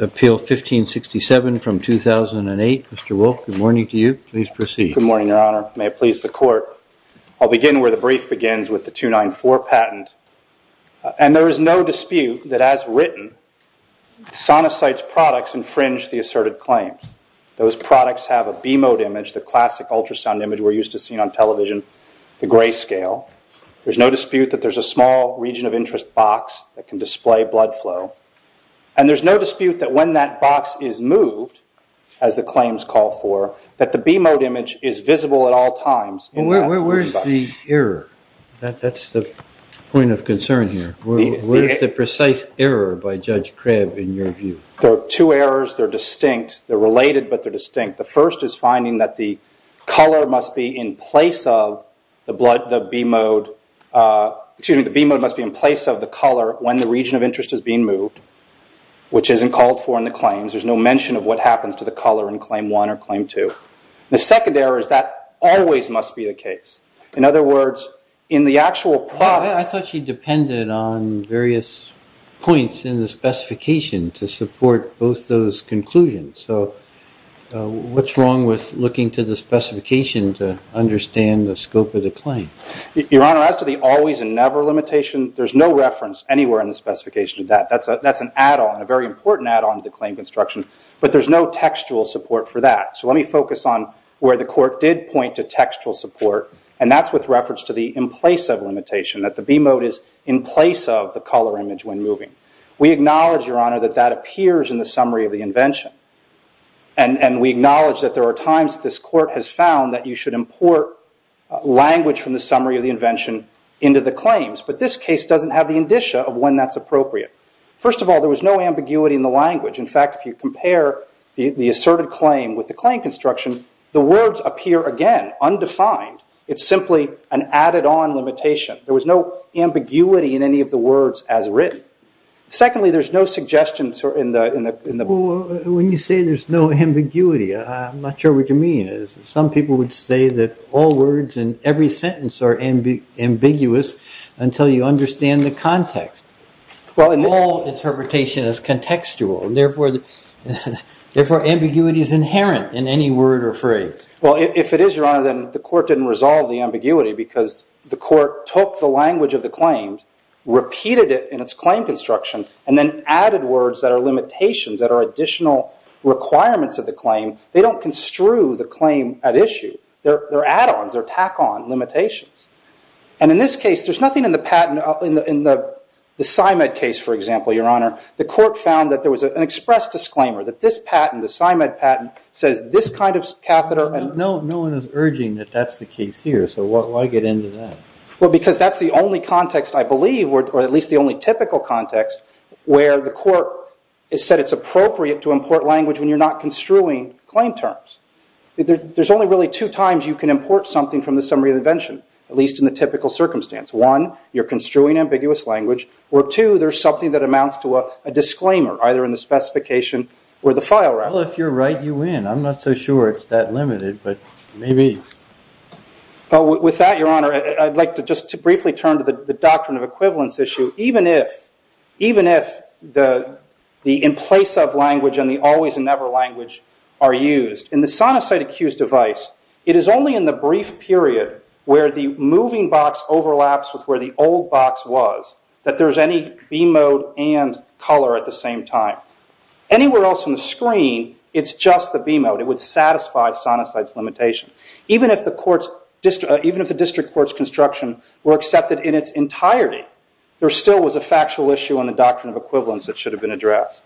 Appeal 1567 from 2008. Mr. Wolfe, good morning to you. Please proceed. Good morning, Your Honor. May it please the Court, I'll begin where the brief begins with the 294 patent. And there is no dispute that as written, Sonosite's products infringe the asserted claims. Those products have a B-mode image, the classic ultrasound image we're used to seeing on television, the gray scale. There's no dispute that there's a small region of interest box that can display blood flow. And there's no dispute that when that box is moved, as the claims call for, that the B-mode image is visible at all times. Where's the error? That's the point of concern here. Where's the precise error by Judge Krebb in your view? There are two errors. They're distinct. They're related, but they're distinct. The first is finding that the color must be in place of the blood, the B-mode, excuse me, the B-mode must be in place of the color when the region of interest is being moved, which isn't called for in the claims. There's no mention of what happens to the color in other words, in the actual product. I thought she depended on various points in the specification to support both those conclusions. So what's wrong with looking to the specification to understand the scope of the claim? Your Honor, as to the always and never limitation, there's no reference anywhere in the specification to that. That's an add-on, a very important add-on to the claim construction, but there's no textual support for that. So let me focus on where the and that's with reference to the in place of limitation, that the B-mode is in place of the color image when moving. We acknowledge, Your Honor, that that appears in the summary of the invention. And we acknowledge that there are times that this court has found that you should import language from the summary of the invention into the claims. But this case doesn't have the indicia of when that's appropriate. First of all, there was no ambiguity in the language. In fact, if you compare the asserted claim with the claim construction, the words appear again, undefined. It's simply an added-on limitation. There was no ambiguity in any of the words as written. Secondly, there's no suggestions in the... When you say there's no ambiguity, I'm not sure what you mean. Some people would say that all words in every sentence are ambiguous until you understand the context. All interpretation is Well, if it is, Your Honor, then the court didn't resolve the ambiguity because the court took the language of the claim, repeated it in its claim construction, and then added words that are limitations, that are additional requirements of the claim. They don't construe the claim at issue. They're add-ons. They're tack-on limitations. And in this case, there's nothing in the patent... In the SIMED case, for example, Your Honor, the court found that there was an express disclaimer that this patent, the SIMED patent, says this kind of catheter... No one is urging that that's the case here, so why get into that? Well, because that's the only context, I believe, or at least the only typical context, where the court has said it's appropriate to import language when you're not construing claim terms. There's only really two times you can import something from the summary of the invention, at least in the typical circumstance. One, you're construing ambiguous language, or two, there's something that amounts to a disclaimer, either in the specification or the file. Well, if you're right, you win. I'm not so sure it's that limited, but maybe... Well, with that, Your Honor, I'd like to just briefly turn to the doctrine of equivalence issue, even if the in-place-of language and the always-and-never language are used. In the sonocyte-accused device, it is only in the brief period where the moving box overlaps with where the old box was that there's any mode and color at the same time. Anywhere else on the screen, it's just the B mode. It would satisfy sonocyte's limitation. Even if the district court's construction were accepted in its entirety, there still was a factual issue on the doctrine of equivalence that should have been addressed.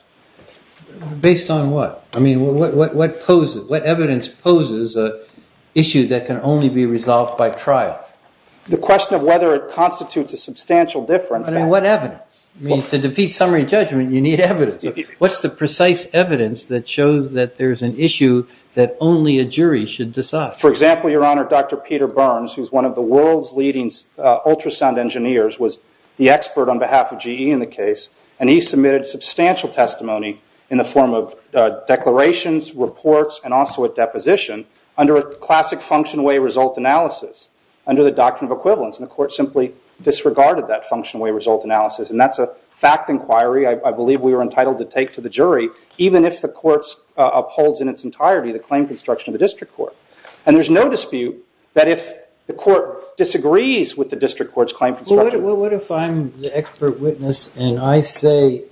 Based on what? I mean, what evidence poses an issue that can only be resolved by trial? The question of whether it constitutes a defeat summary judgment, you need evidence. What's the precise evidence that shows that there's an issue that only a jury should decide? For example, Your Honor, Dr. Peter Burns, who's one of the world's leading ultrasound engineers, was the expert on behalf of GE in the case, and he submitted substantial testimony in the form of declarations, reports, and also a deposition under a classic function-away result analysis, under the doctrine of equivalence. The court simply disregarded that function-away result analysis, and that's a fact inquiry I believe we were entitled to take to the jury, even if the court upholds in its entirety the claim construction of the district court. And there's no dispute that if the court disagrees with the district court's claim construction. Well, what if I'm the expert witness, and I say,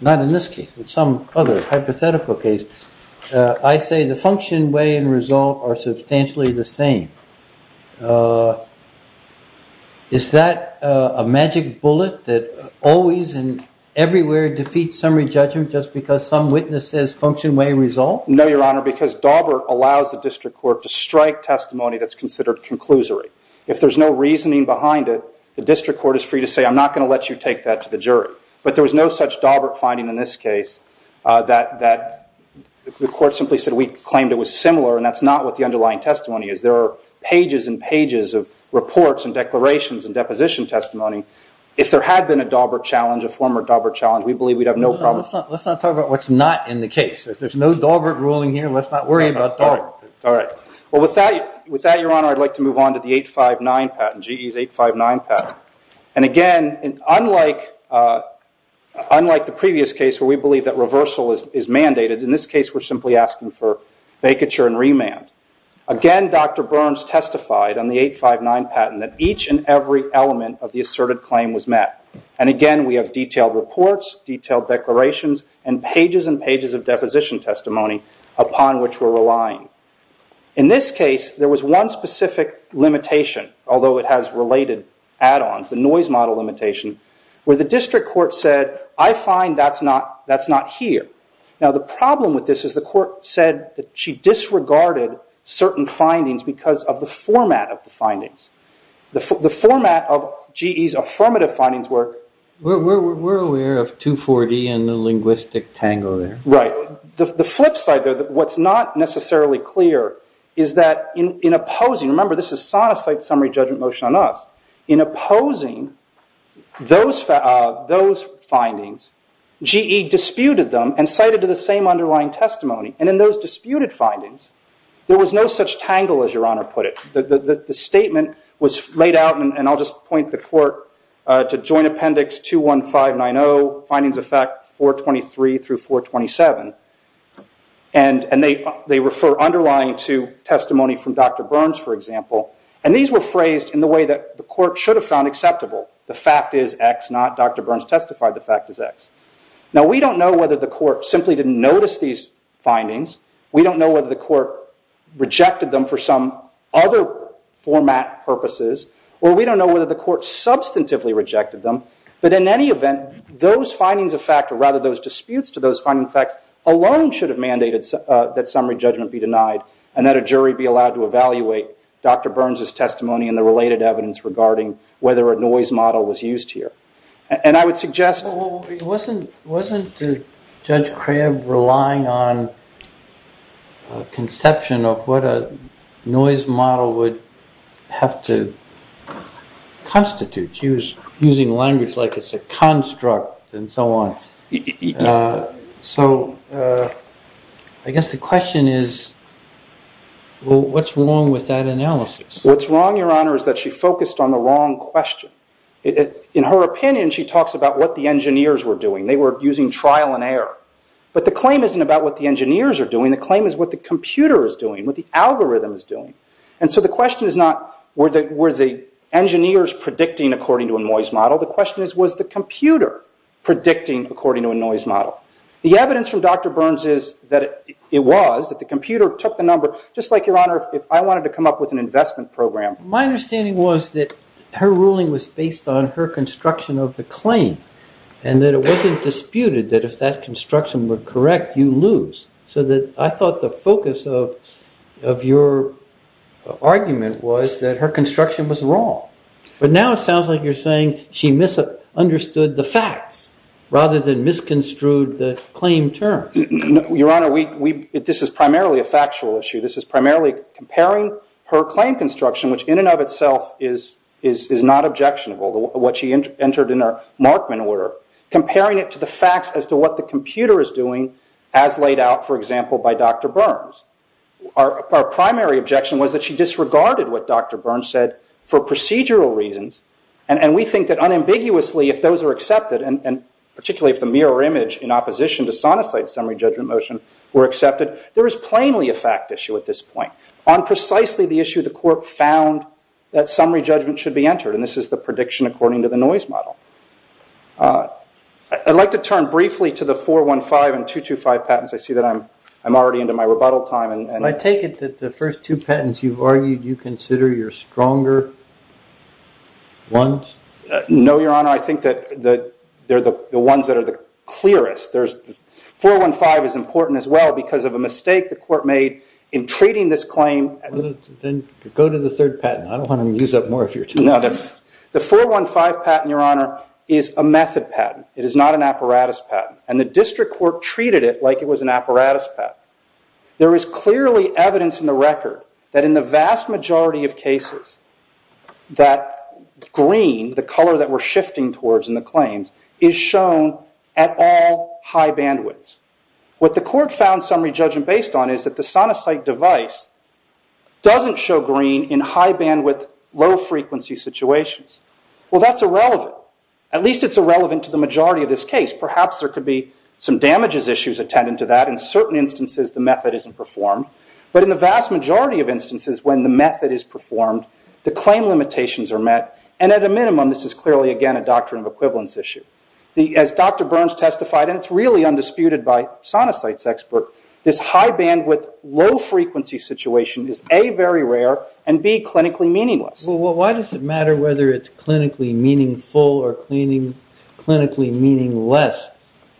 not in this case, but some other hypothetical case, I say the function, way, and result are substantially the same. Is that a magic bullet that always and everywhere defeats summary judgment just because some witness says function, way, result? No, Your Honor, because Daubert allows the district court to strike testimony that's considered conclusory. If there's no reasoning behind it, the district court is free to say, I'm not going to let you take that to the jury. But there was no such Daubert finding in this case that the court simply said we claimed it was similar, and that's not what the underlying testimony is. There are pages and pages of reports and declarations and deposition testimony. If there had been a Daubert challenge, a former Daubert challenge, we believe we'd have no problem. Let's not talk about what's not in the case. If there's no Daubert ruling here, let's not worry about Daubert. All right. Well, with that, Your Honor, I'd like to move on to the 859 patent, GE's 859 patent. And again, unlike the previous case where we believe that reversal is mandated, in this case we're simply asking for vacature and remand. Again, Dr. Burns testified on the 859 patent that each and every element of the asserted claim was met. And again, we have detailed reports, detailed declarations, and pages and pages of deposition testimony upon which we're relying. In this case, there was one specific limitation, although it has related add-ons, the noise model limitation, where the district court said, I find that's not here. Now, the problem with this is the court said that she disregarded certain findings because of the format of the findings. The format of GE's affirmative findings were. We're aware of 240 and the linguistic tango there. Right. The flip side there, what's not necessarily clear is that in opposing, remember, this is a summary judgment motion on us. In opposing those findings, GE disputed them and cited to the same underlying testimony. And in those disputed findings, there was no such tangle, as Your Honor put it. The statement was laid out, and I'll just point the court to Joint Appendix 21590, findings of fact 423 through 427. And they refer underlying to Dr. Burns, for example. And these were phrased in the way that the court should have found acceptable. The fact is X, not Dr. Burns testified the fact is X. Now, we don't know whether the court simply didn't notice these findings. We don't know whether the court rejected them for some other format purposes. Or we don't know whether the court substantively rejected them. But in any event, those findings of fact, or rather those disputes to those finding facts, alone should mandate that summary judgment be denied. And that a jury be allowed to evaluate Dr. Burns' testimony and the related evidence regarding whether a noise model was used here. And I would suggest... Well, wasn't Judge Crabb relying on a conception of what a noise model would have to constitute? She was using language like it's a construct and so on. So I guess the question is, well, what's wrong with that analysis? What's wrong, Your Honor, is that she focused on the wrong question. In her opinion, she talks about what the engineers were doing. They were using trial and error. But the claim isn't about what the engineers are doing. The claim is what the computer is doing, what the algorithm is doing. And so the question is not, were the engineers predicting according to a noise model? The computer predicting according to a noise model. The evidence from Dr. Burns is that it was, that the computer took the number, just like, Your Honor, if I wanted to come up with an investment program. My understanding was that her ruling was based on her construction of the claim and that it wasn't disputed that if that construction were correct, you lose. So I thought the focus of your argument was that her construction was wrong. But now it sounds like she misunderstood the facts rather than misconstrued the claim term. Your Honor, this is primarily a factual issue. This is primarily comparing her claim construction, which in and of itself is not objectionable, what she entered in her Markman order, comparing it to the facts as to what the computer is doing as laid out, for example, by Dr. Burns. Our primary objection was that she disregarded what Dr. Burns said for procedural reasons and we think that unambiguously, if those are accepted, and particularly if the mirror image in opposition to Sonicide's summary judgment motion were accepted, there is plainly a fact issue at this point. On precisely the issue, the court found that summary judgment should be entered and this is the prediction according to the noise model. I'd like to turn briefly to the 415 and 225 patents. I see that I'm already into my rebuttal time. So I take it that the ones? No, Your Honor. I think that they're the ones that are the clearest. 415 is important as well because of a mistake the court made in treating this claim. Then go to the third patent. I don't want to use up more of your time. No, that's the 415 patent, Your Honor, is a method patent. It is not an apparatus patent and the district court treated it like it was an apparatus patent. There is clearly evidence in the record that in the vast majority of cases that green, the color that we're shifting towards in the claims, is shown at all high bandwidths. What the court found summary judgment based on is that the Sonicide device doesn't show green in high bandwidth, low frequency situations. Well, that's irrelevant. At least it's irrelevant to the majority of this case. Perhaps there could be some damages issues attendant to that. In certain instances, the method isn't performed. But in the vast majority of instances when the method is performed, the claim limitations are met. At a minimum, this is clearly, again, a doctrine of equivalence issue. As Dr. Burns testified, and it's really undisputed by Sonicide's expert, this high bandwidth, low frequency situation is A, very rare, and B, clinically meaningless. Well, why does it matter whether it's clinically meaningful or clinically meaningless?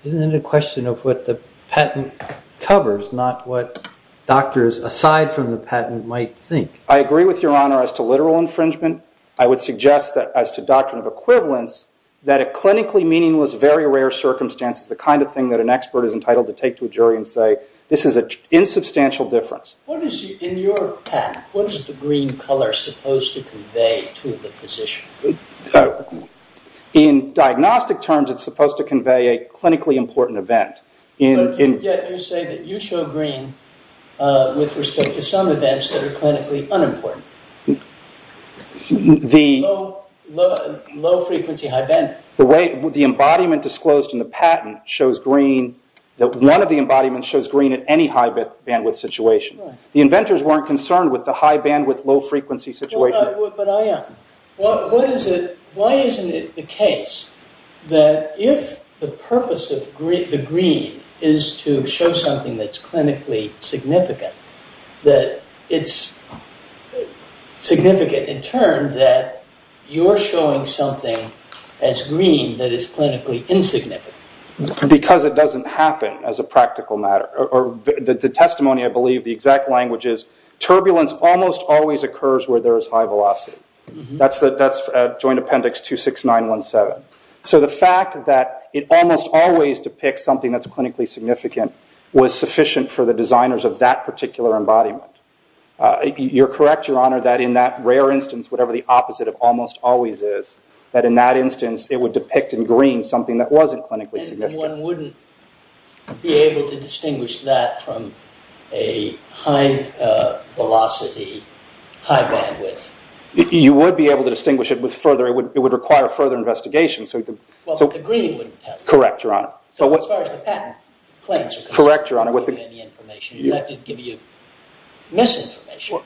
Isn't it a question of what the patent covers, not what doctors, aside from the patent, might think? I agree with your honor as to literal infringement. I would suggest that as to doctrine of equivalence, that a clinically meaningless, very rare circumstance is the kind of thing that an expert is entitled to take to a jury and say, this is an insubstantial difference. In your patent, what is the green color supposed to convey to the physician? In diagnostic terms, it's supposed to convey a clinically important event. Yet you say that you show green with respect to some events that are clinically unimportant. Low frequency, high bandwidth. The embodiment disclosed in the patent shows green, that one of the embodiments shows green at any high bandwidth situation. The inventors weren't concerned with the high bandwidth, low frequency situation. But I am. Why isn't it the case that if the purpose of the green is to show something that's clinically significant, that it's significant in turn that you're showing something as green that is clinically insignificant? Because it doesn't happen as a practical matter. The testimony, the exact language is, turbulence almost always occurs where there is high velocity. That's Joint Appendix 26917. The fact that it almost always depicts something that's clinically significant was sufficient for the designers of that particular embodiment. You're correct, Your Honor, that in that rare instance, whatever the opposite of almost always is, that in that instance, it would depict in green something that wasn't clinically significant. One wouldn't be able to distinguish that from a high velocity, high bandwidth. You would be able to distinguish it with further, it would require further investigation. The green wouldn't tell you. Correct, Your Honor. As far as the patent claims are concerned. Correct, Your Honor. You'd have to give you misinformation.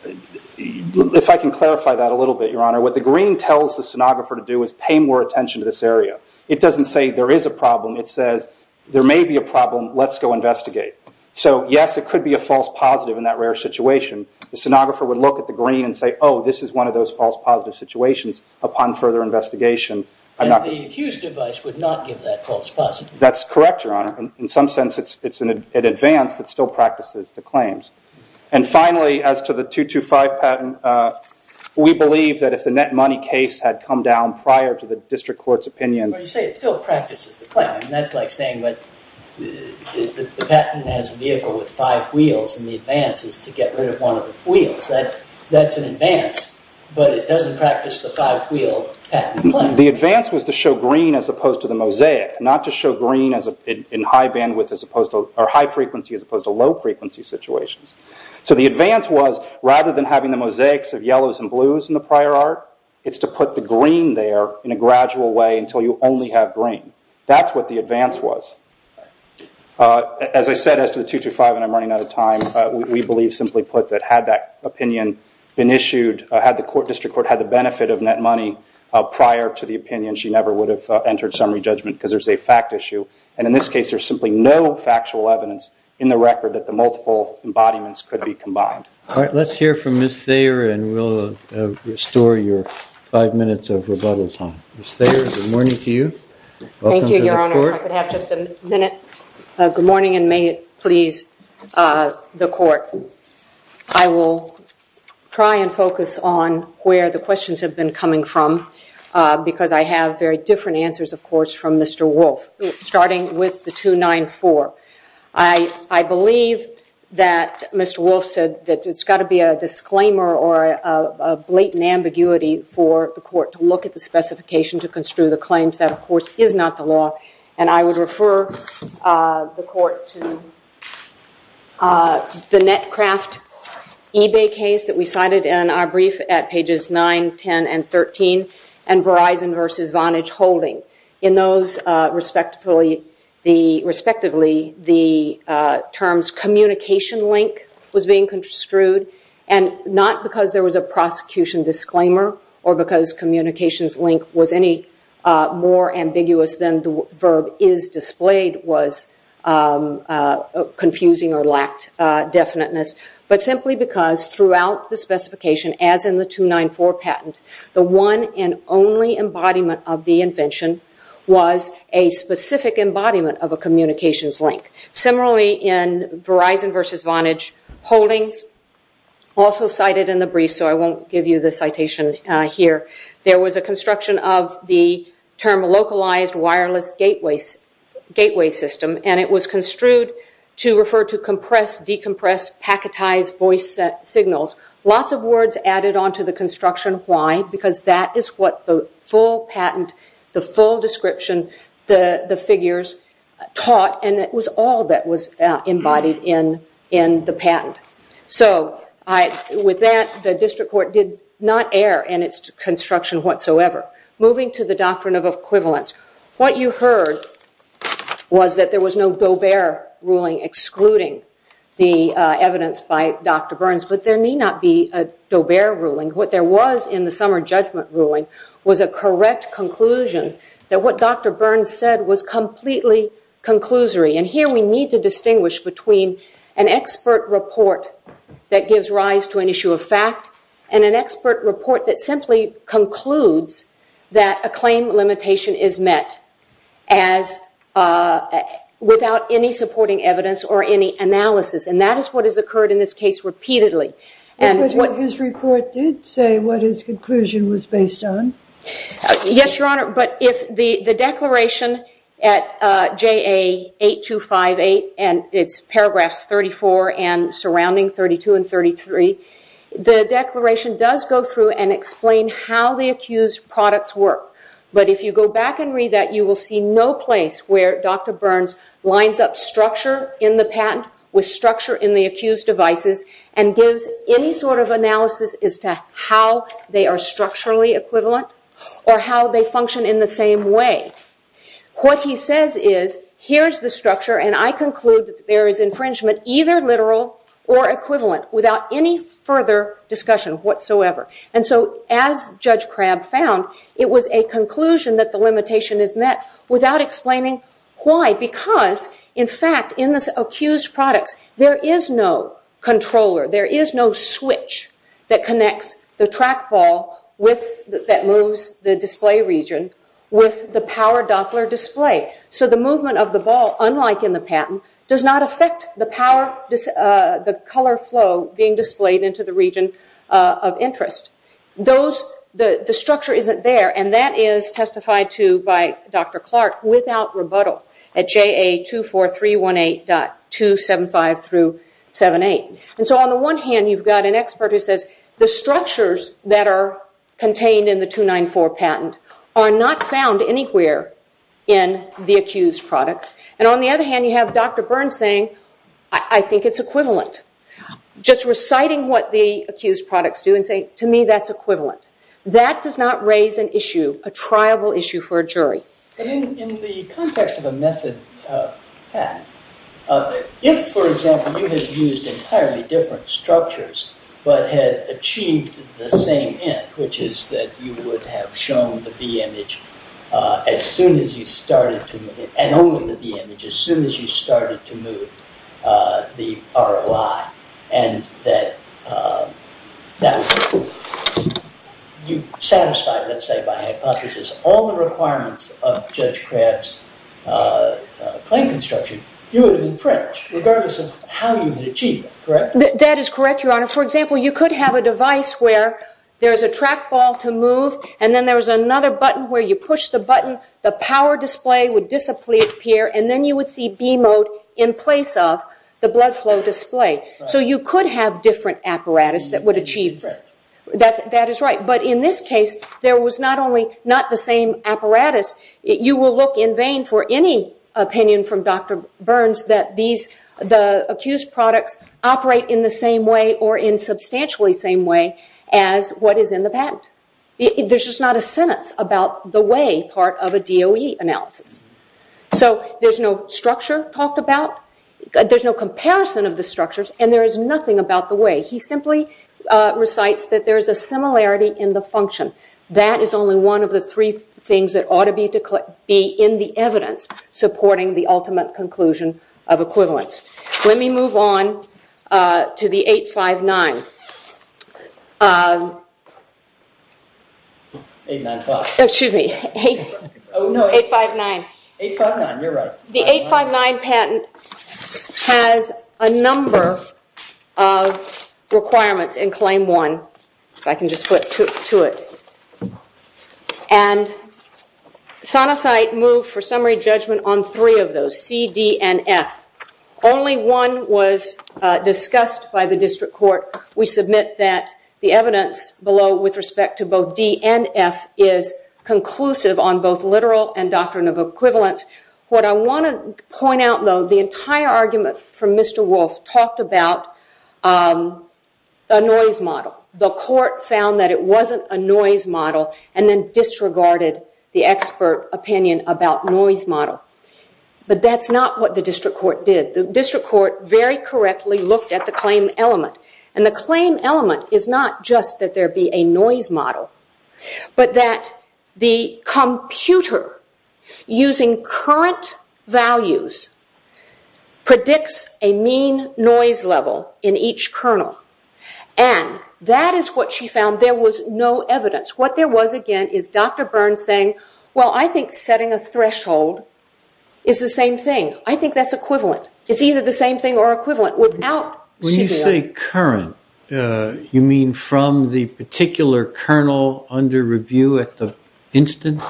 If I can clarify that a little bit, Your Honor, what the green tells the sonographer to do is pay more attention to this area. It doesn't say there is a problem. It says there may be a problem. Let's go investigate. Yes, it could be a false positive in that rare situation. The sonographer would look at the green and say, oh, this is one of those false positive situations. Upon further investigation, I'm not- The accused device would not give that false positive. That's correct, Your Honor. In some sense, it's an advance that still practices the claims. Finally, as to the 225 patent, we believe that if the net money case had come down prior to district court's opinion- When you say it still practices the claim, that's like saying that the patent has a vehicle with five wheels and the advance is to get rid of one of the wheels. That's an advance, but it doesn't practice the five wheel patent claim. The advance was to show green as opposed to the mosaic, not to show green in high frequency as opposed to low frequency situations. The advance was, rather than having the mosaics of yellows and blues in the prior art, it's to put the green there in a gradual way until you only have green. That's what the advance was. As I said, as to the 225, and I'm running out of time, we believe, simply put, that had that opinion been issued, had the district court had the benefit of net money prior to the opinion, she never would have entered summary judgment because there's a fact issue. In this case, there's simply no factual evidence in the record that the multiple embodiments could be combined. Let's hear from Ms. Thayer and we'll restore your five minutes of rebuttal time. Ms. Thayer, good morning to you. Thank you, Your Honor. I could have just a minute. Good morning and may it please the court. I will try and focus on where the questions have been coming from because I have very different answers, of course, from Mr. Wolfe, starting with the 294. I believe that Mr. Wolfe that it's got to be a disclaimer or a blatant ambiguity for the court to look at the specification to construe the claims. That, of course, is not the law and I would refer the court to the net craft eBay case that we cited in our brief at pages 9, 10, and 13 and Verizon versus Vantage. Not because there was a prosecution disclaimer or because communications link was any more ambiguous than the verb is displayed was confusing or lacked definiteness, but simply because throughout the specification, as in the 294 patent, the one and only embodiment of the invention was a specific embodiment of a communications link. Similarly, in Verizon versus Vantage holdings, also cited in the brief, so I won't give you the citation here, there was a construction of the term localized wireless gateway system and it was construed to refer to compress, decompress, packetize voice signals. Lots of words added onto the construction. Why? Because that is what the full patent, the full description, the figures taught and it was all that was embodied in the patent. So with that, the district court did not err in its construction whatsoever. Moving to the doctrine of equivalence. What you heard was that there was no Doe-Bear ruling excluding the evidence by Dr. Burns, but there may not be a Doe-Bear ruling. What there was in the summer judgment ruling was a correct conclusion that what Dr. Burns said was correct. We need to distinguish between an expert report that gives rise to an issue of fact and an expert report that simply concludes that a claim limitation is met without any supporting evidence or any analysis. And that is what has occurred in this case repeatedly. But his report did say what his conclusion was based on. Yes, Your Honor, but if the declaration at JA 8258 and its paragraphs 34 and surrounding 32 and 33, the declaration does go through and explain how the accused products work. But if you go back and read that, you will see no place where Dr. Burns lines up structure in the patent with structure in the accused devices and gives any sort of analysis as to how they are structurally equivalent or how they function in the same way. What he says is, here is the structure and I conclude that there is infringement either literal or equivalent without any further discussion whatsoever. And so as Judge Crabb found, it was a conclusion that the limitation is met without explaining why. Because, in fact, in the accused products, there is no controller, there is no switch that connects the track ball that moves the display region with the power Doppler display. So the movement of the ball, unlike in the patent, does not affect the power, the color flow being displayed into the region of interest. The structure isn't there and that is testified to by Dr. Clark without rebuttal at JA 24318.275-78. And so on the one hand, you've got an expert who says, the structures that are contained in the 294 patent are not found anywhere in the accused products. And on the other hand, you have Dr. Burns saying, I think it's equivalent. Just reciting what the accused products do and saying, to me, that's equivalent. That does not raise an issue, a triable issue for a jury. In the context of a method patent, if, for example, you had used entirely different structures but had achieved the same end, which is that you would have shown the B image as soon as you started to, and only the B image, as soon as you started to move the ROI. And that you satisfied, let's say by hypothesis, all the requirements of Judge Kraft's claim construction, you would have infringed, regardless of how you had achieved it, correct? That is correct, Your Honor. For example, you could have a device where there is a trackball to move and then there was another button where you push the button, the power display would disappear, and then you would see B mode in place of the blood flow display. So you could have different apparatus that would achieve that. That is right. But in this case, there was not only not the same apparatus, you will look in vain for any opinion from Dr. Burns that the accused products operate in the same way or in substantially the same way as what is in the patent. There is just not a sentence about the way part of a DOE analysis. So there is no structure talked about, there is no comparison of the structures, and there is nothing about the way. He simply recites that there is a similarity in the function. That is only one of the three things that ought to be in the evidence supporting the ultimate conclusion of equivalence. Let me move on to the 859. The 859 patent has a number of requirements in claim 1, if I can just flip to it. And Sonocite moved for summary judgment on three of those, C, D, and F. Only one was discussed by the district court. We submit that the evidence below with respect to both D and F is conclusive on both literal and doctrine of equivalence. What I want to point out though, the entire argument from Mr. Wolf talked about a noise model. The court found that it wasn't a noise model and then disregarded the expert opinion about noise model. But that's not what the district court did. The district court very correctly looked at the claim element. And the claim element is not just that there be a noise model, but that the computer using current values predicts a mean noise level in each kernel. And that is what she found. There was no evidence. What there was, again, is Dr. Burns saying, well, I think setting a threshold is the same thing. I think that's equivalent. It's either the same thing or equivalent. When you say current, you mean from the particular kernel under review at the instant?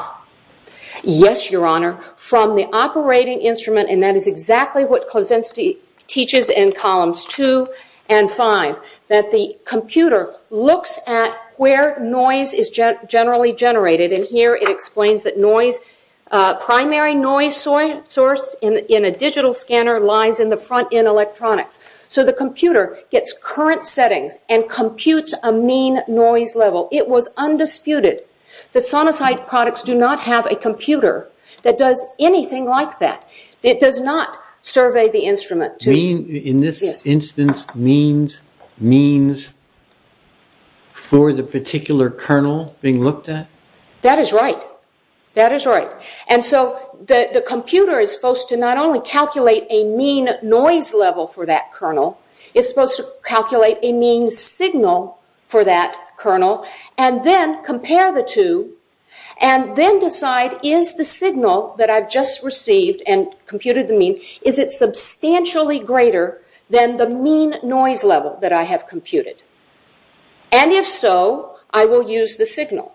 Yes, Your Honor. From the operating instrument, and that is exactly what Kosinski teaches in columns 2 and 5, that the computer looks at where noise is generally generated. And here it explains that noise, primary noise source in a digital scanner, lies in the front end electronics. So the computer gets current settings and computes a mean noise level. It was undisputed that sonosite products do not have a computer that does anything like that. It does not survey the instrument. In this instance, means for the particular kernel being looked at? That is right. That is right. And so the computer is supposed to not only calculate a mean noise level for that kernel, it's supposed to calculate a mean signal for that kernel and then compare the two and then decide, is the signal that I've just received and computed the mean, is it substantially greater than the mean noise level that I have computed? And if so, I will use the signal.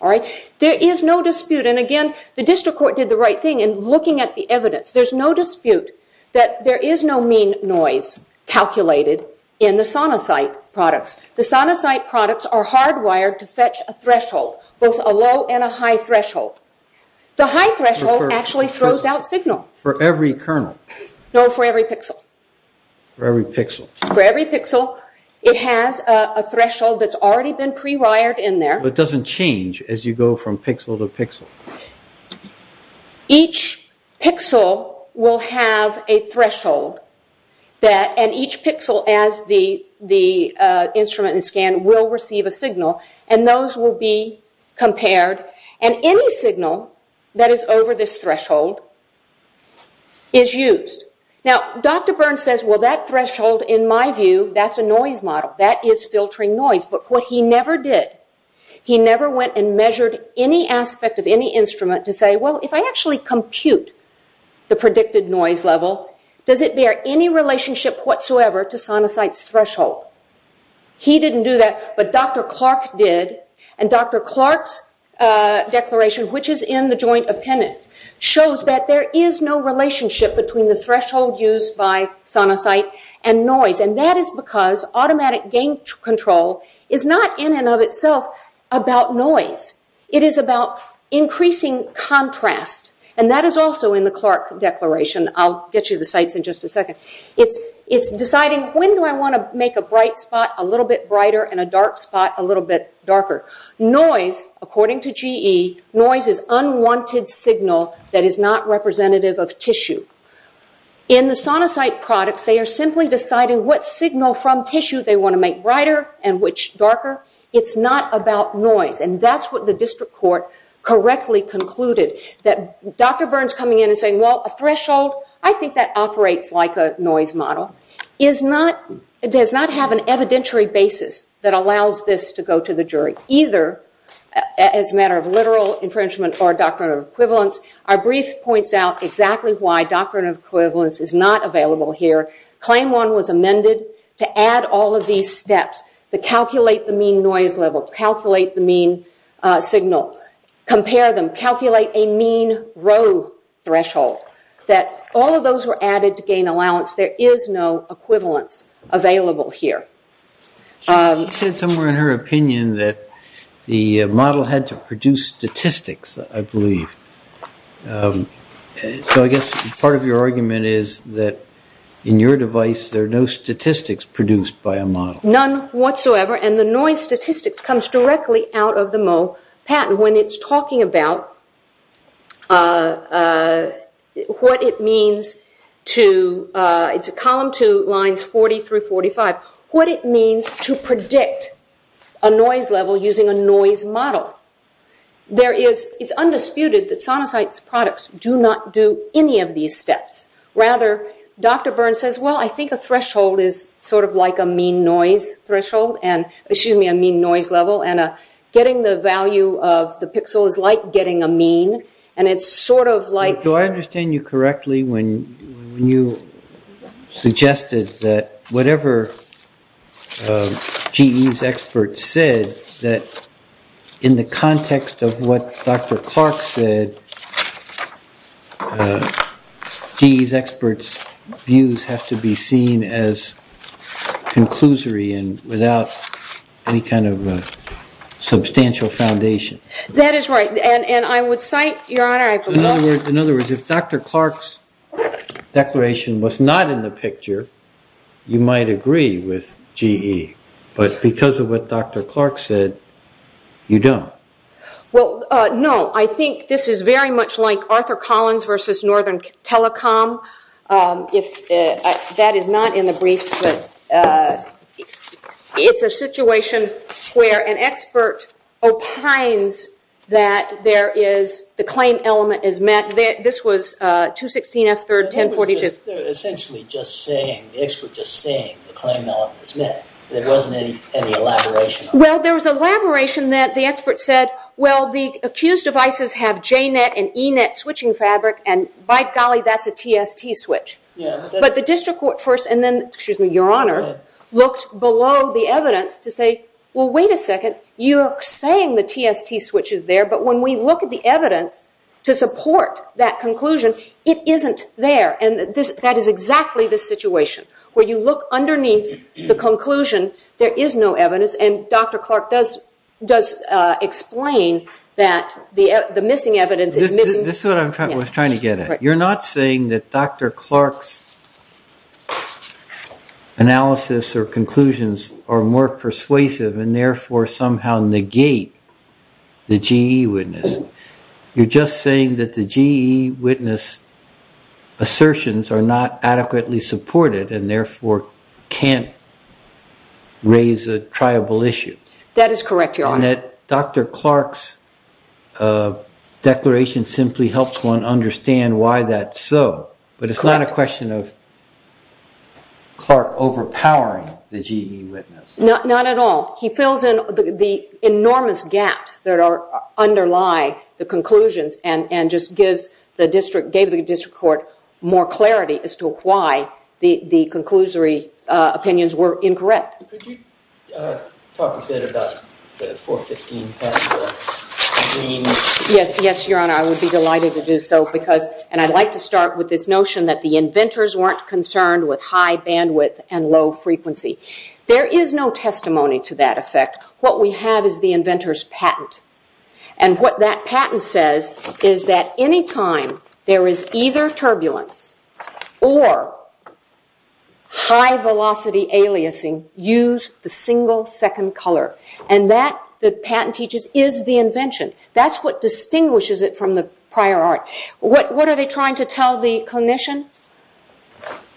There is no dispute, and again, the district court did the right thing in looking at the evidence. There's no dispute that there is no mean noise calculated in the sonosite products. The sonosite products are hardwired to fetch a threshold, both a low and a high threshold. The high threshold actually throws out signal. For every kernel? No, for every pixel. For every pixel. For every pixel. It has a threshold that's already been pre-wired in there. It doesn't change as you go from pixel to pixel? Each pixel will have a threshold, and each pixel as the instrument is scanned will receive a signal, and those will be compared, and any signal that is over this threshold is used. Now, Dr. Burns says, well, that threshold in my view, that's a noise model. That is filtering noise. But what he never did, he never went and measured any aspect of any instrument to say, well, if I actually compute the predicted noise level, does it bear any relationship whatsoever to sonosite's threshold? He didn't do that, but Dr. Clark did, and Dr. Clark's declaration, which is in the joint appendix, shows that there is no relationship between the threshold used by sonosite and noise, and that is because automatic gain control is not in and of itself about noise. It is about increasing contrast, and that is also in the Clark declaration. I'll get you the sites in just a second. It's deciding when do I want to make a bright spot a little bit brighter and a dark spot a little bit darker. Noise, according to GE, noise is unwanted signal that is not representative of tissue. In the sonosite products, they are simply deciding what signal from tissue they want to make brighter and which darker. It's not about noise, and that's what the district court correctly concluded, that Dr. Burns coming in and saying, well, a threshold, I think that operates like a noise model, does not have an evidentiary basis that allows this to go to the jury, either as a matter of literal infringement or doctrinal equivalence. Our brief points out exactly why doctrinal equivalence is not available here. Claim one was amended to add all of these steps, to calculate the mean noise level, to calculate the mean signal, compare them, calculate a mean row threshold, that all of those were added to gain allowance. There is no equivalence available here. She said somewhere in her opinion that the model had to produce statistics, I believe. So I guess part of your argument is that in your device there are no statistics produced by a model. None whatsoever, and the noise statistics comes directly out of the Moe patent. And when it's talking about what it means to, it's column two, lines 40 through 45, what it means to predict a noise level using a noise model. It's undisputed that Sonosite's products do not do any of these steps. Rather, Dr. Burns says, well, I think a threshold is sort of like a mean noise threshold, excuse me, a mean noise level, and getting the value of the pixel is like getting a mean, and it's sort of like- Do I understand you correctly when you suggested that whatever GE's experts said, that in the context of what Dr. Clark said, GE's experts' views have to be seen as conclusory and without any kind of substantial foundation? That is right, and I would cite, Your Honor- In other words, if Dr. Clark's declaration was not in the picture, you might agree with GE, but because of what Dr. Clark said, you don't. Well, no, I think this is very much like Arthur Collins versus Northern Telecom. That is not in the briefs, but it's a situation where an expert opines that the claim element is met. This was 216F3, 1042- It was essentially just saying, the expert just saying, the claim element is met. There wasn't any elaboration on that. Well, there was elaboration that the expert said, well, the accused devices have J-net and E-net switching fabric, and by golly, that's a TST switch. But the district court first, and then, excuse me, Your Honor, looked below the evidence to say, well, wait a second, you're saying the TST switch is there, but when we look at the evidence to support that conclusion, it isn't there, and that is exactly the situation where you look underneath the conclusion, there is no evidence, and Dr. Clark does explain that the missing evidence is missing. This is what I was trying to get at. You're not saying that Dr. Clark's analysis or conclusions are more persuasive and therefore somehow negate the GE witness. You're just saying that the GE witness assertions are not adequately supported and therefore can't raise a triable issue. That is correct, Your Honor. And that Dr. Clark's declaration simply helps one understand why that's so, but it's not a question of Clark overpowering the GE witness. Not at all. And just gave the district court more clarity as to why the conclusory opinions were incorrect. Yes, Your Honor, I would be delighted to do so, and I'd like to start with this notion that the inventors weren't concerned with high bandwidth and low frequency. There is no testimony to that effect. What we have is the inventor's patent, and what that patent says is that any time there is either turbulence or high velocity aliasing, use the single second color. And that, the patent teaches, is the invention. That's what distinguishes it from the prior art. What are they trying to tell the clinician?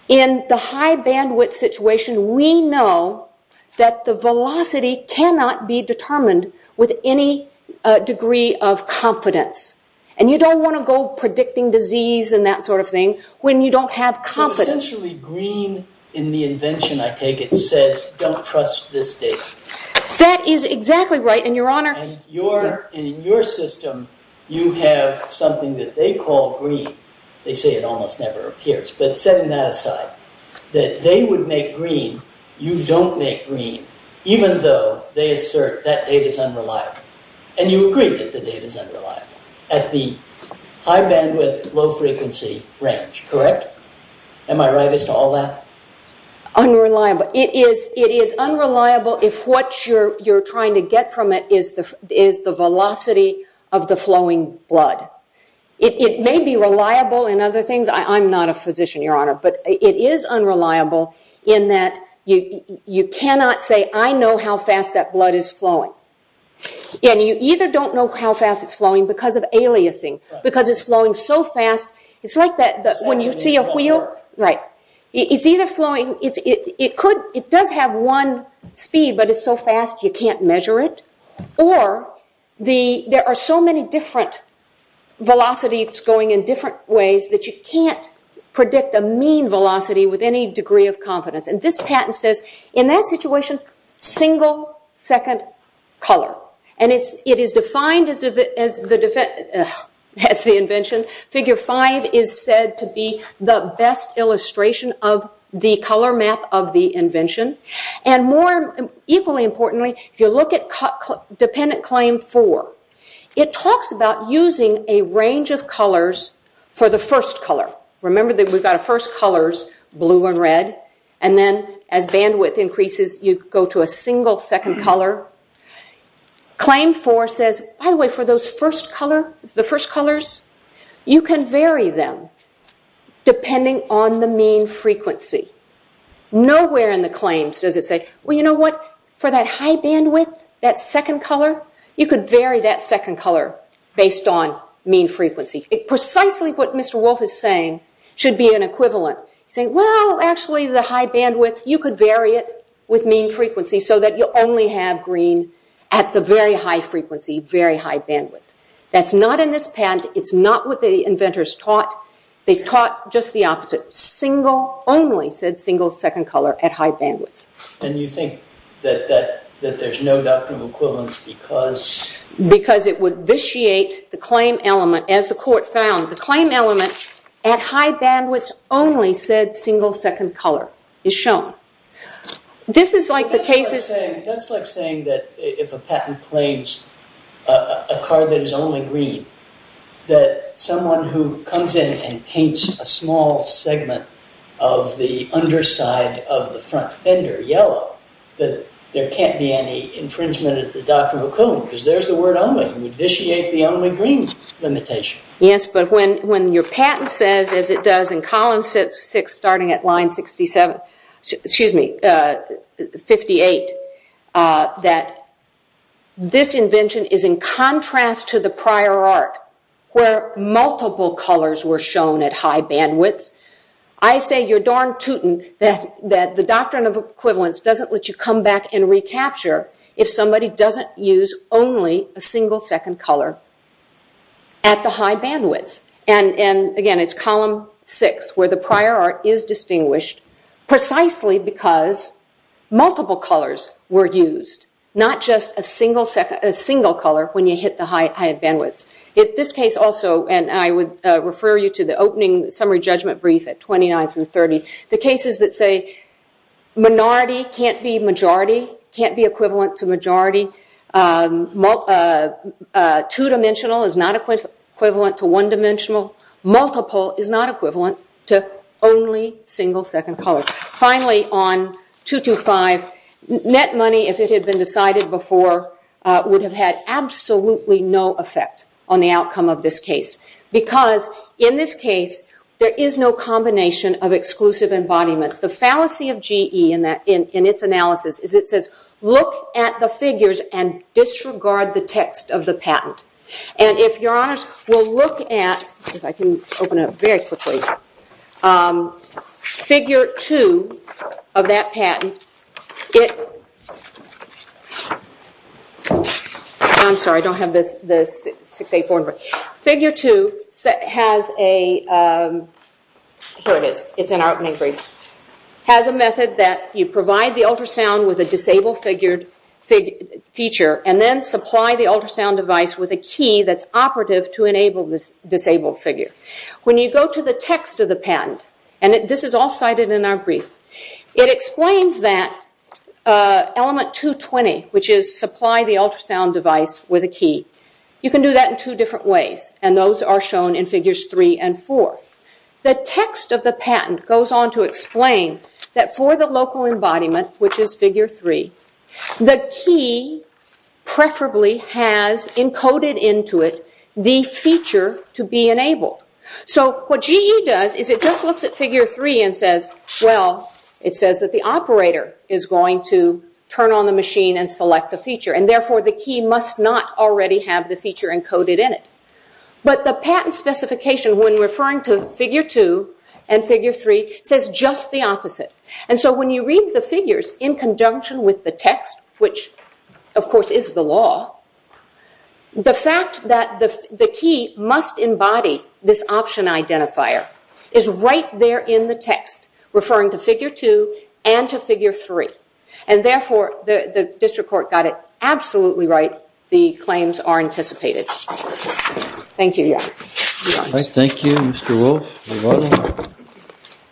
In the high bandwidth situation, we know that the velocity cannot be determined with any degree of confidence. And you don't want to go predicting disease and that sort of thing when you don't have confidence. So essentially green in the invention, I take it, says don't trust this data. That is exactly right, and Your Honor. And in your system, you have something that they call green. They say it almost never appears. But setting that aside, that they would make green, you don't make green, even though they assert that data is unreliable. And you agree that the data is unreliable at the high bandwidth, low frequency range. Correct? Am I right as to all that? Unreliable. It is unreliable if what you're trying to get from it is the velocity of the flowing blood. It may be reliable in other things. I'm not a physician, Your Honor, but it is unreliable in that you cannot say, I know how fast that blood is flowing. And you either don't know how fast it's flowing because of aliasing, because it's flowing so fast. It's like when you see a wheel. It's either flowing. It does have one speed, but it's so fast you can't measure it. Or there are so many different velocities going in different ways that you can't predict a mean velocity with any degree of confidence. And this patent says, in that situation, single second color. And it is defined as the invention. Figure 5 is said to be the best illustration of the color map of the invention. And more equally importantly, if you look at dependent claim 4, it talks about using a range of colors for the first color. Remember that we've got first colors, blue and red, and then as bandwidth increases you go to a single second color. Claim 4 says, by the way, for those first colors, you can vary them depending on the mean frequency. Nowhere in the claims does it say, well, you know what, for that high bandwidth, that second color, you could vary that second color based on mean frequency. Precisely what Mr. Wolfe is saying should be an equivalent. He's saying, well, actually the high bandwidth, you could vary it with mean frequency so that you only have green at the very high frequency, very high bandwidth. That's not in this patent. It's not what the inventors taught. They taught just the opposite. Only said single second color at high bandwidth. And you think that there's no doctrinal equivalence because? Because it would vitiate the claim element, as the court found. The claim element at high bandwidth only said single second color is shown. This is like the cases... That's like saying that if a patent claims a car that is only green, that someone who comes in and paints a small segment of the underside of the front fender yellow, that there can't be any infringement of the doctrinal equivalent because there's the word only. It would vitiate the only green limitation. Yes, but when your patent says, as it does in column 6, starting at line 67, excuse me, 58, that this invention is in contrast to the prior art where multiple colors were shown at high bandwidths, I say you're darn tootin' that the doctrine of equivalence doesn't let you come back and recapture if somebody doesn't use only a single second color at the high bandwidths. And again, it's column 6 where the prior art is distinguished precisely because multiple colors were used, not just a single color when you hit the high bandwidths. In this case also, and I would refer you to the opening summary judgment brief at 29 through 30, the cases that say minority can't be majority, can't be equivalent to majority, two-dimensional is not equivalent to one-dimensional, multiple is not equivalent to only single second color. Finally, on 225, net money, if it had been decided before, would have had absolutely no effect on the outcome of this case because in this case there is no combination of exclusive embodiments. The fallacy of GE in its analysis is it says, look at the figures and disregard the text of the patent. And if you're honest, we'll look at, if I can open it up very quickly, figure 2 of that patent. I'm sorry, I don't have the 684. Figure 2 has a, here it is, it's in our opening brief, has a method that you provide the ultrasound with a disabled feature and then supply the ultrasound device with a key that's operative to enable this disabled figure. When you go to the text of the patent, and this is all cited in our brief, it explains that element 220, which is supply the ultrasound device with a key, you can do that in two different ways and those are shown in figures 3 and 4. The text of the patent goes on to explain that for the local embodiment, which is figure 3, the key preferably has encoded into it the feature to be enabled. So what GE does is it just looks at figure 3 and says, well, it says that the operator is going to turn on the machine and select the feature and therefore the key must not already have the feature encoded in it. But the patent specification, when referring to figure 2 and figure 3, says just the opposite. And so when you read the figures in conjunction with the text, which of course is the law, the fact that the key must embody this option identifier is right there in the text, referring to figure 2 and to figure 3. And therefore the district court got it absolutely right. The claims are anticipated. Thank you, Your Honor. Thank you, Mr. Wolf.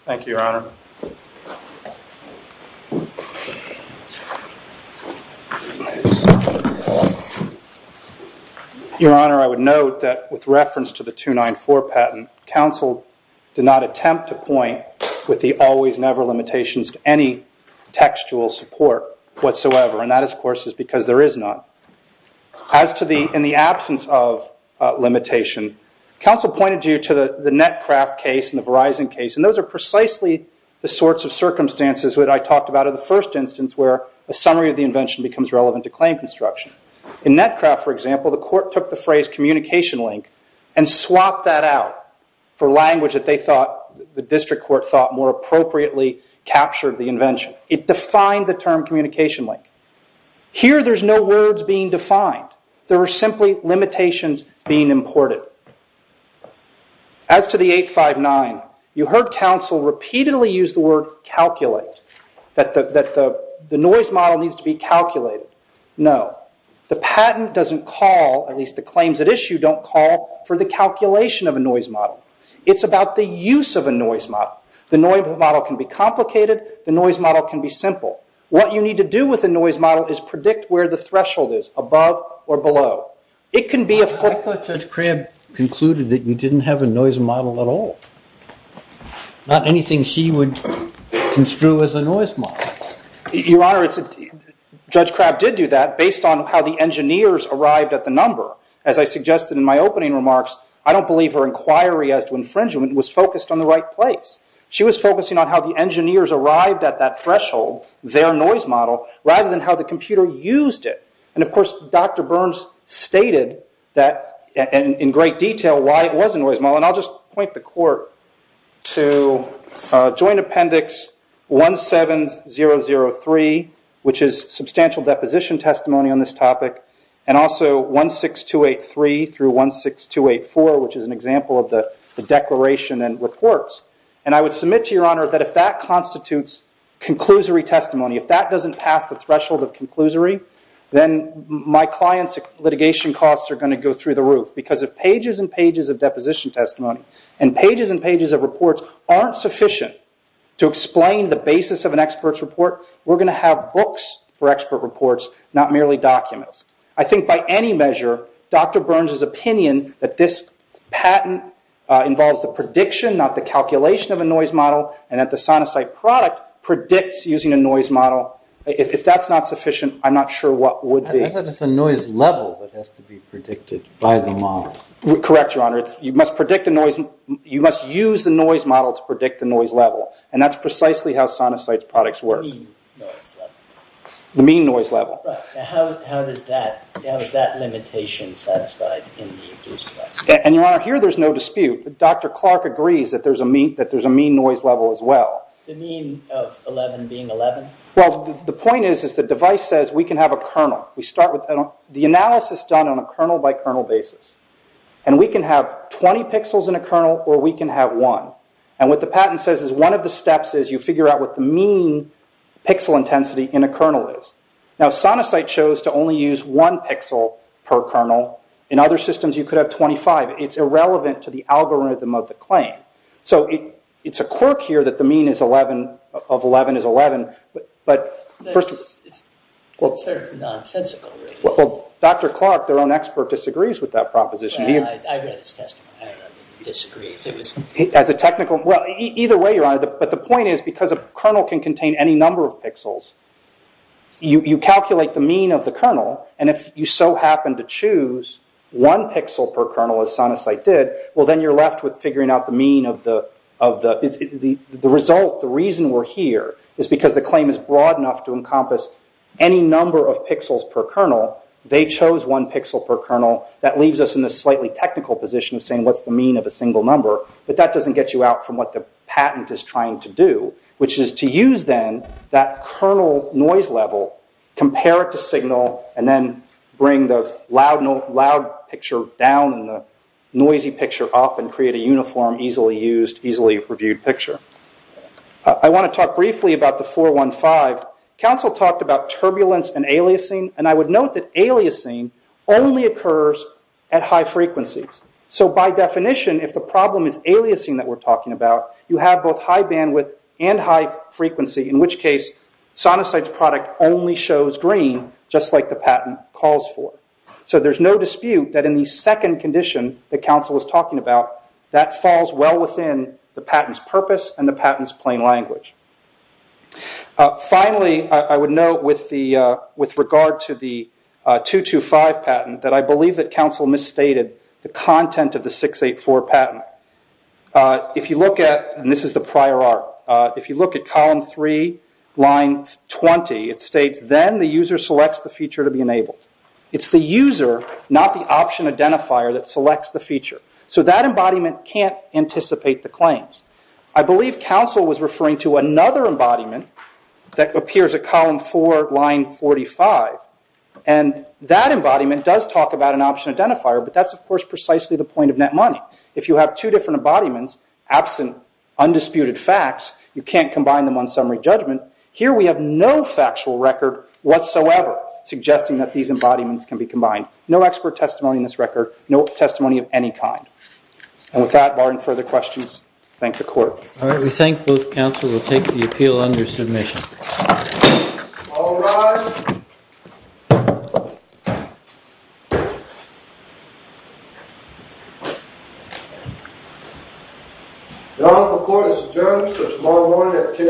Thank you, Your Honor. Your Honor, I would note that with reference to the 294 patent, counsel did not attempt to point with the always-never limitations to any textual support whatsoever. And that, of course, is because there is not. In the absence of limitation, counsel pointed you to the Netcraft case and the Verizon case, and those are precisely the sorts of circumstances that I talked about in the first instance where a summary of the invention becomes relevant to claim construction. In Netcraft, for example, the court took the phrase communication link and swapped that out for language that they thought the district court thought more appropriately captured the invention. It defined the term communication link. Here there's no words being defined. There are simply limitations being imported. As to the 859, you heard counsel repeatedly use the word calculate, that the noise model needs to be calculated. No. The patent doesn't call, at least the claims at issue don't call, for the calculation of a noise model. It's about the use of a noise model. The noise model can be complicated. The noise model can be simple. What you need to do with a noise model is predict where the threshold is above or below. I thought Judge Crabb concluded that you didn't have a noise model at all. Not anything she would construe as a noise model. Your Honor, Judge Crabb did do that based on how the engineers arrived at the number. As I suggested in my opening remarks, I don't believe her inquiry as to infringement was focused on the right place. She was focusing on how the engineers arrived at that threshold, their noise model, rather than how the computer used it. Of course, Dr. Burns stated in great detail why it was a noise model. I'll just point the court to Joint Appendix 17003, which is substantial deposition testimony on this topic, and also 16283 through 16284, which is an example of the declaration and reports. I would submit to Your Honor that if that constitutes conclusory testimony, if that doesn't pass the threshold of conclusory, then my client's litigation costs are going to go through the roof. Because if pages and pages of deposition testimony and pages and pages of reports aren't sufficient to explain the basis of an expert's report, we're going to have books for expert reports, not merely documents. I think by any measure, Dr. Burns' opinion that this patent involves the prediction, not the calculation of a noise model, and that the sinusoid product predicts using a noise model, if that's not sufficient, I'm not sure what would be. I thought it was a noise level that has to be predicted by the model. Correct, Your Honor. You must use the noise model to predict the noise level, and that's precisely how sinusoid products work. The mean noise level. The mean noise level. How is that limitation satisfied in the case? Your Honor, here there's no dispute. Dr. Clark agrees that there's a mean noise level as well. The mean of 11 being 11? The point is that the device says we can have a kernel. We start with the analysis done on a kernel-by-kernel basis. We can have 20 pixels in a kernel, or we can have one. What the patent says is that one of the steps is you figure out what the mean pixel intensity in a kernel is. Sinusoid shows to only use one pixel per kernel. In other systems, you could have 25. It's irrelevant to the algorithm of the claim. It's a quirk here that the mean of 11 is 11, but first of all... It's sort of nonsensical. Dr. Clark, their own expert, disagrees with that proposition. I read his testimony. I don't know if he disagrees. As a technical... Either way, Your Honor, but the point is because a kernel can contain any number of pixels, you calculate the mean of the kernel, and if you so happen to choose one pixel per kernel as Sinusoid did, well then you're left with figuring out the mean of the... The result, the reason we're here is because the claim is broad enough to encompass any number of pixels per kernel. They chose one pixel per kernel. That leaves us in a slightly technical position of saying what's the mean of a single number, but that doesn't get you out from what the patent is trying to do, which is to use then that kernel noise level, compare it to signal, and then bring the loud picture down and the noisy picture up and create a uniform, easily used, easily reviewed picture. I want to talk briefly about the 415. Counsel talked about turbulence and aliasing, and I would note that aliasing only occurs at high frequencies. So by definition, if the problem is aliasing that we're talking about, you have both high bandwidth and high frequency, in which case Sinusoid's product only shows green, just like the patent calls for. So there's no dispute that in the second condition that counsel was talking about, that falls well within the patent's purpose and the patent's plain language. Finally, I would note, with regard to the 225 patent, that I believe that counsel misstated the content of the 684 patent. If you look at, and this is the prior art, if you look at column 3, line 20, it states, then the user selects the feature to be enabled. It's the user, not the option identifier, that selects the feature. So that embodiment can't anticipate the claims. I believe counsel was referring to another embodiment that appears at column 4, line 45, and that embodiment does talk about an option identifier, but that's of course precisely the point of net money. If you have two different embodiments, absent undisputed facts, you can't combine them on summary judgment. Here we have no factual record whatsoever suggesting that these embodiments can be combined. No expert testimony in this record, no testimony of any kind. And with that, barring further questions, thank the court. All right. We thank both counsel. We'll take the appeal under submission. All rise. The Honorable Court is adjourned until tomorrow morning at 10 a.m.